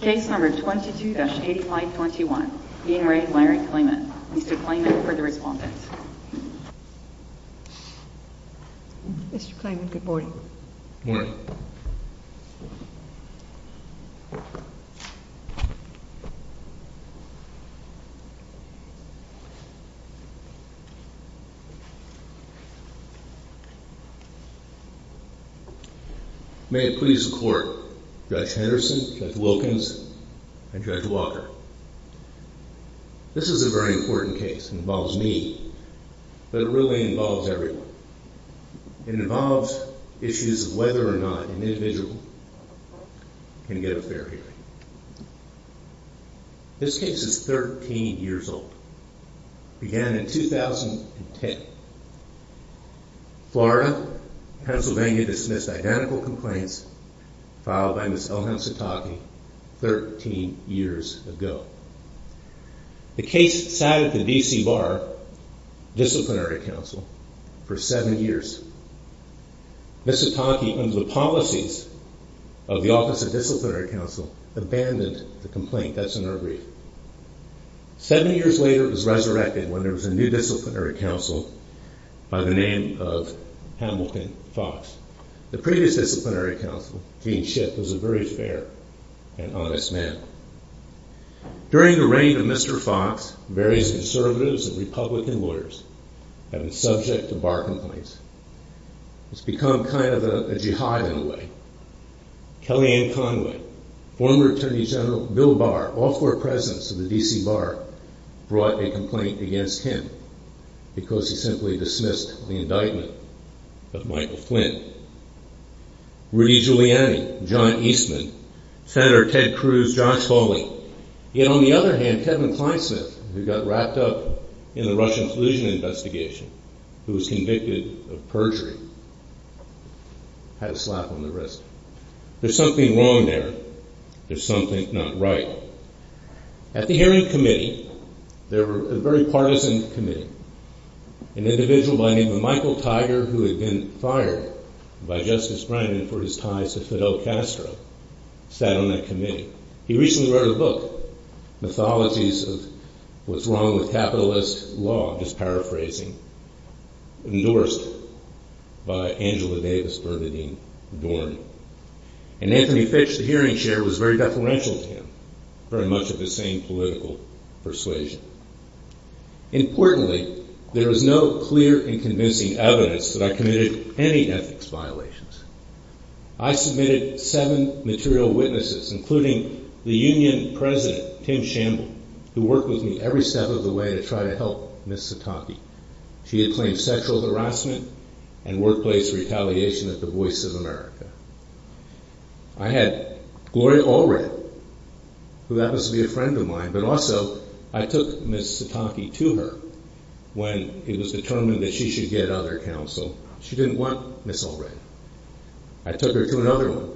Case number 22-8521, Dean Ray Larry Klayman. Mr. Klayman for the respondents. Mr. Klayman, good morning. Morning. May it please the court, Judge Henderson, Judge Wilkins, and Judge Walker. This is a very important case. It involves me, but it really involves everyone. It involves issues of whether or not an individual can get a fair hearing. This case is 13 years old. It began in 2010. Florida, Pennsylvania dismissed identical complaints filed by Ms. Elham Sataki 13 years ago. The case sat at the D.C. Bar Disciplinary Council for seven years. Ms. Sataki, under the policies of the Office of the Disciplinary Council, abandoned the complaint. That's in her brief. Seven years later, it was resurrected when there was a new disciplinary council by the name of Hamilton Fox. The previous disciplinary council, Dean Schiff, was a very fair and honest man. During the reign of Mr. Fox, various conservatives and Republican lawyers have been subject to bar complaints. It's become kind of a jihad in a way. Kellyanne Conway, former Attorney General Bill Barr, all four presidents of the D.C. Bar brought a complaint against him because he simply dismissed the indictment of Michael Flynn. Rudy Giuliani, John Eastman, Senator Ted Cruz, Josh Foley. Yet on the other hand, Kevin Kleinsmith, who got wrapped up in the Russian collusion investigation, who was convicted of perjury, had a slap on the wrist. There's something wrong there. There's something not right. At the hearing committee, they were a very partisan committee. An individual by the name of Michael Tiger, who had been fired by Justice Brennan for his ties to Fidel Castro, sat on that committee. He recently wrote a book, Mythologies of What's Wrong with Capitalist Law, just paraphrasing, endorsed by Angela Davis for the dean, Dorn. And Anthony Fitch, the hearing chair, was very deferential to him, very much of the same political persuasion. Importantly, there is no clear and convincing evidence that I committed any ethics violations. I submitted seven material witnesses, including the union president, Tim Shamble, who worked with me every step of the way to try to help Ms. Sataki. She had claimed sexual harassment and workplace retaliation at the Voice of America. I had Gloria Allred, who happens to be a friend of mine, but also I took Ms. Sataki to her when it was determined that she should get other counsel. She didn't want Ms. Allred. I took her to another one,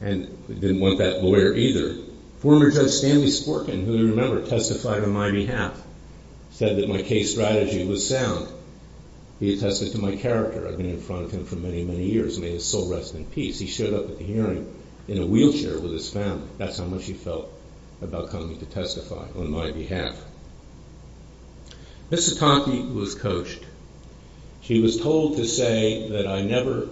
who didn't want that lawyer either. Former Judge Stanley Sporkin, who you remember, testified on my behalf. He said that my case strategy was sound. He attested to my character. I've been in front of him for many, many years. May his soul rest in peace. He showed up at the hearing in a wheelchair with his family. That's how much he felt about coming to testify on my behalf. Ms. Sataki was coached. She was told to say that I never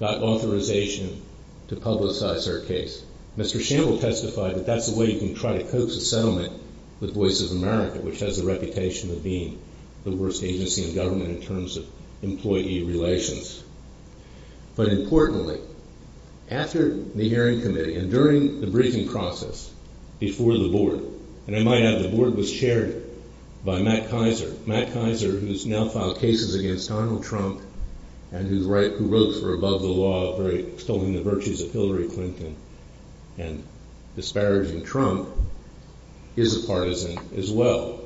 got authorization to publicize her case. Mr. Shamble testified that that's the way you can try to coax a settlement with Voice of America, which has a reputation of being the worst agency in government in terms of employee relations. But importantly, after the hearing committee and during the briefing process before the board, and I might add the board was chaired by Matt Kaiser. Matt Kaiser, who's now filed cases against Donald Trump and who wrote for Above the Law, extolling the virtues of Hillary Clinton and disparaging Trump, is a partisan as well.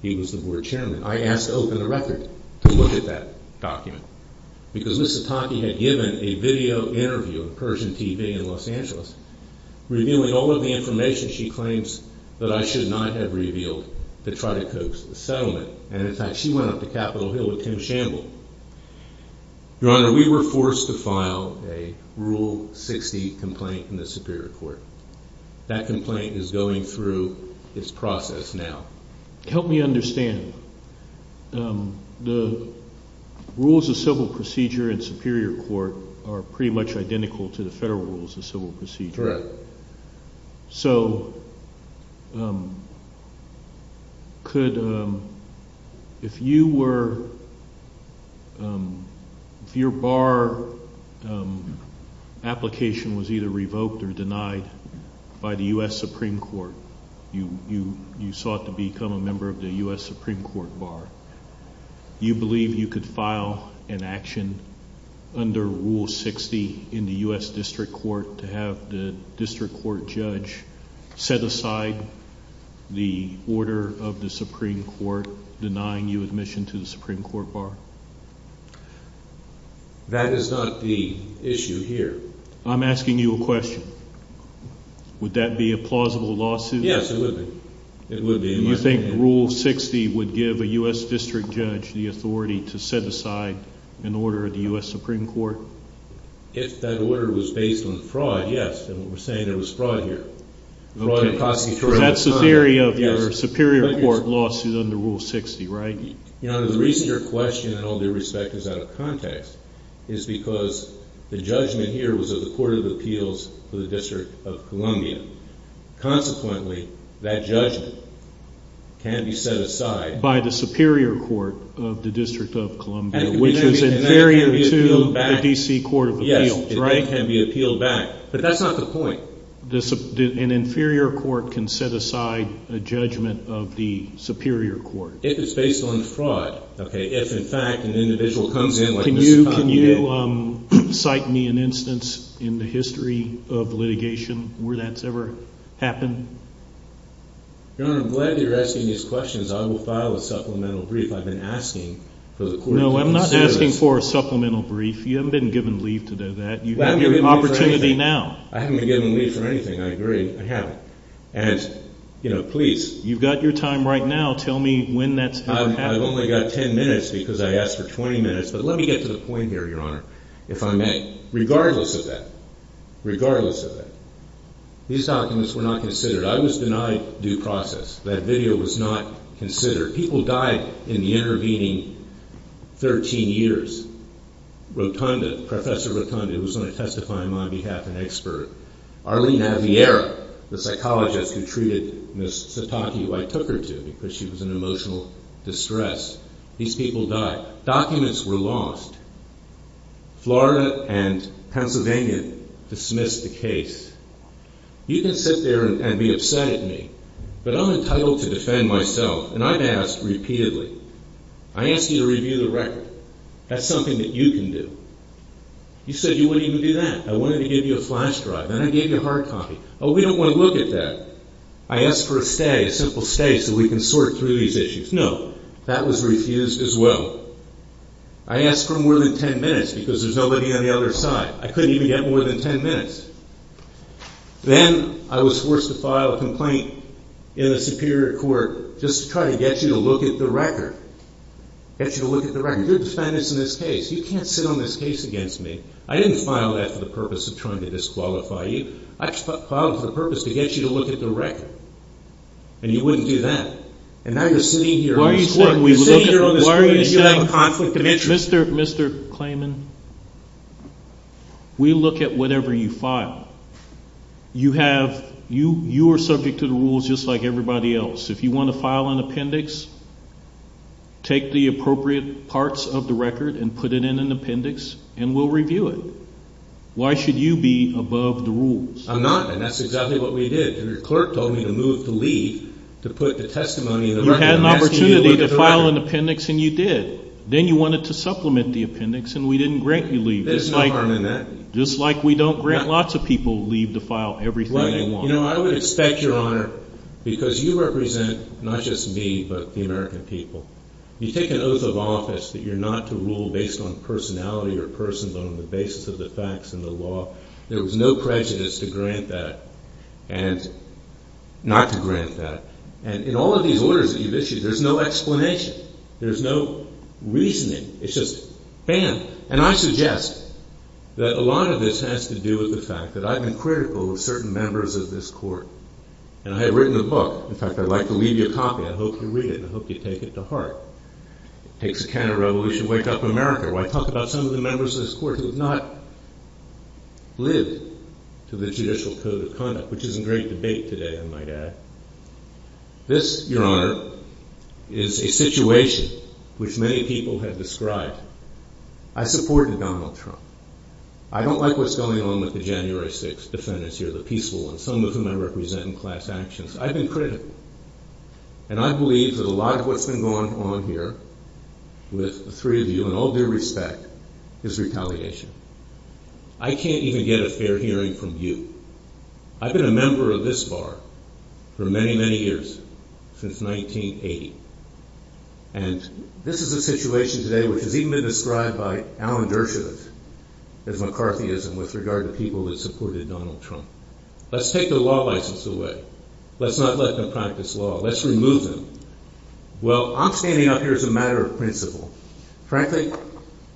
He was the board chairman. I asked to open the record to look at that document because Ms. Sataki had given a video interview on Persian TV in Los Angeles, revealing all of the information she claims that I should not have revealed to try to coax the settlement. And in fact, she went up to Capitol Hill with Tim Shamble. Your Honor, we were forced to file a Rule 60 complaint in the Superior Court. That complaint is going through its process now. Help me understand. The rules of civil procedure in Superior Court are pretty much identical to the federal rules of civil procedure. Correct. So could, if you were, if your Supreme Court bar, you believe you could file an action under Rule 60 in the U.S. District Court to have the District Court judge set aside the order of the Supreme Court denying you admission to the Supreme Court bar? That is not the issue here. I'm asking you a question. Would that be a plausible lawsuit? Yes, it would be. Do you think Rule 60 would give a U.S. District Judge the authority to set aside an order of the U.S. Supreme Court? If that order was based on fraud, yes. And we're saying there was fraud here. Fraud in prosecutorial time. That's the theory of your Superior Court lawsuit under Rule 60, right? Your Honor, the reason your question, in all due respect, is out of context is because the judgment here was of the Court of Appeals for the District of Columbia. Consequently, that judgment can be set aside by the Superior Court of the District of Columbia, which is inferior to the D.C. Court of Appeals, right? Yes, it can be appealed back. But that's not the point. An inferior court can set aside a judgment of the Superior Court? If it's an instance in the history of litigation where that's ever happened? Your Honor, I'm glad you're asking these questions. I will file a supplemental brief. I've been asking for the Court of Appeals. No, I'm not asking for a supplemental brief. You haven't been given leave to do that. You have your opportunity now. I haven't been given leave for anything. I agree. I haven't. And, you know, please. You've got your time right now. Tell me when that's happened. I've only got 10 minutes because I asked for 20 minutes. But let me get to the point here, Your Honor, if I may. Regardless of that, regardless of that, these documents were not considered. I was denied due process. That video was not considered. People died in the intervening 13 years. Rotunda, Professor Rotunda, who was going to testify on my behalf, an expert. Arlene Naviera, the psychologist who treated Ms. Sataki, who I asked. Florida and Pennsylvania dismissed the case. You can sit there and be upset at me, but I'm entitled to defend myself. And I've asked repeatedly. I asked you to review the record. That's something that you can do. You said you wouldn't even do that. I wanted to give you a flash drive. Then I gave you a hard copy. Oh, we don't want to look at that. I asked for a stay, a simple stay, so we can sort through these issues. No, that was refused as well. I asked for more than 10 minutes because there's nobody on the other side. I couldn't even get more than 10 minutes. Then I was forced to file a complaint in the Superior Court just to try to get you to look at the record, get you to look at the record. Your defense in this case, you can't sit on this case against me. I didn't file that for the purpose of trying to disqualify you. I filed it for the purpose to get you to look at the record, and you wouldn't do that. And now you're sitting here on this court, and you have a conflict of interest. Mr. Klayman, we look at whatever you file. You are subject to the rules just like everybody else. If you want to file an appendix, take the appropriate parts of the record and put it in an appendix, and we'll review it. Why should you be above the rules? I'm not, and that's exactly what we did. The clerk told me to move to leave to put the testimony in the record. You had an opportunity to file an appendix, and you did. Then you wanted to supplement the appendix, and we didn't grant you leave. There's no harm in that. Just like we don't grant lots of people leave to file everything they want. You know, I would expect, Your Honor, because you represent not just me, but the American people. You take an oath of office that you're not to rule based on personality or persons on the basis of the facts and the law. There was no prejudice to grant that, and not to grant that. And in all of these orders that you've issued, there's no explanation. There's no reasoning. It's just banned. And I suggest that a lot of this has to do with the fact that I've been critical of certain members of this court, and I have written a book. In fact, I'd like to leave you a copy. I hope you read it, and I hope you take it to heart. It takes a can of revolution to back up America. When I talk about some of the members of this court who have not lived to the judicial code of conduct, which is in great debate today, I might add, this, Your Honor, is a situation which many people have described. I supported Donald Trump. I don't like what's going on with the January 6th defendants here, the peaceful ones, some of whom I represent in class actions. I've been critical, and I believe that a lot of what's been going on here with the three of you, in all due respect, is retaliation. I can't even get a fair hearing from you. I've been a member of this bar for many, many years, since 1980. And this is a situation today which has even been described by Alan Dershowitz as McCarthyism with regard to people that supported Donald Trump. Let's take the law license away. Let's not let them practice law. Let's remove them. Well, I'm standing up here as a matter of principle. Frankly,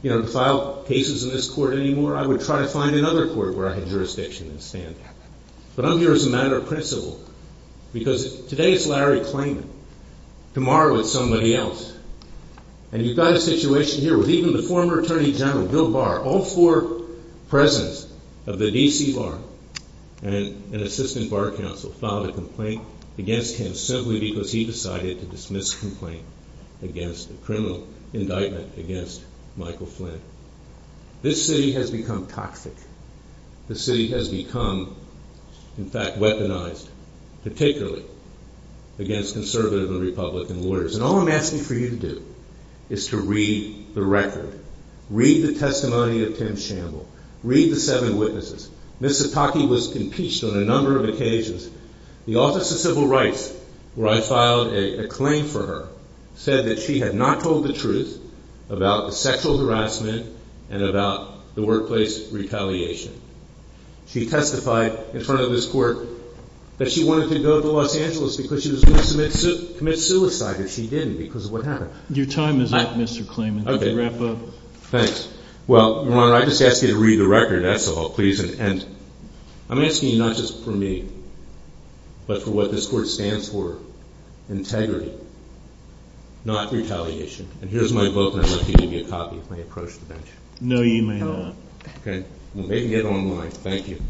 you know, to file cases in this court anymore, I would try to find another court where I had jurisdiction and stand. But I'm here as a matter of principle, because today it's Larry Klain, tomorrow it's somebody else. And you've got a situation here with even the former Attorney General, Bill Barr, all four presidents of the D.C. Bar and an assistant bar counsel filed a complaint against him simply because he decided to dismiss a complaint against a criminal indictment against Michael Flynn. This city has become toxic. The city has become, in fact, weaponized, particularly against conservative and Republican lawyers. And all I'm asking for you to do is to read the record, read the testimony of Tim Shamble, read the seven witnesses. Ms. Sataki was impeached on a number of occasions. The Office of Civil Rights, where I filed a claim for her, said that she had not told the truth about the sexual harassment and about the workplace retaliation. She testified in front of this court that she wanted to go to Los Angeles because she was going to commit suicide, and she didn't because of what happened. Your time is up, Mr. Klain. Okay. Wrap up. Thanks. Well, Your Honor, I just asked you to read the record, that's all, please. And I'm asking you not just for me, but for what this court stands for, integrity, not retaliation. And here's my book, and I'd like you to give me a copy when I approach the bench. No, you may not. Okay. I'm going to make it online. Thank you.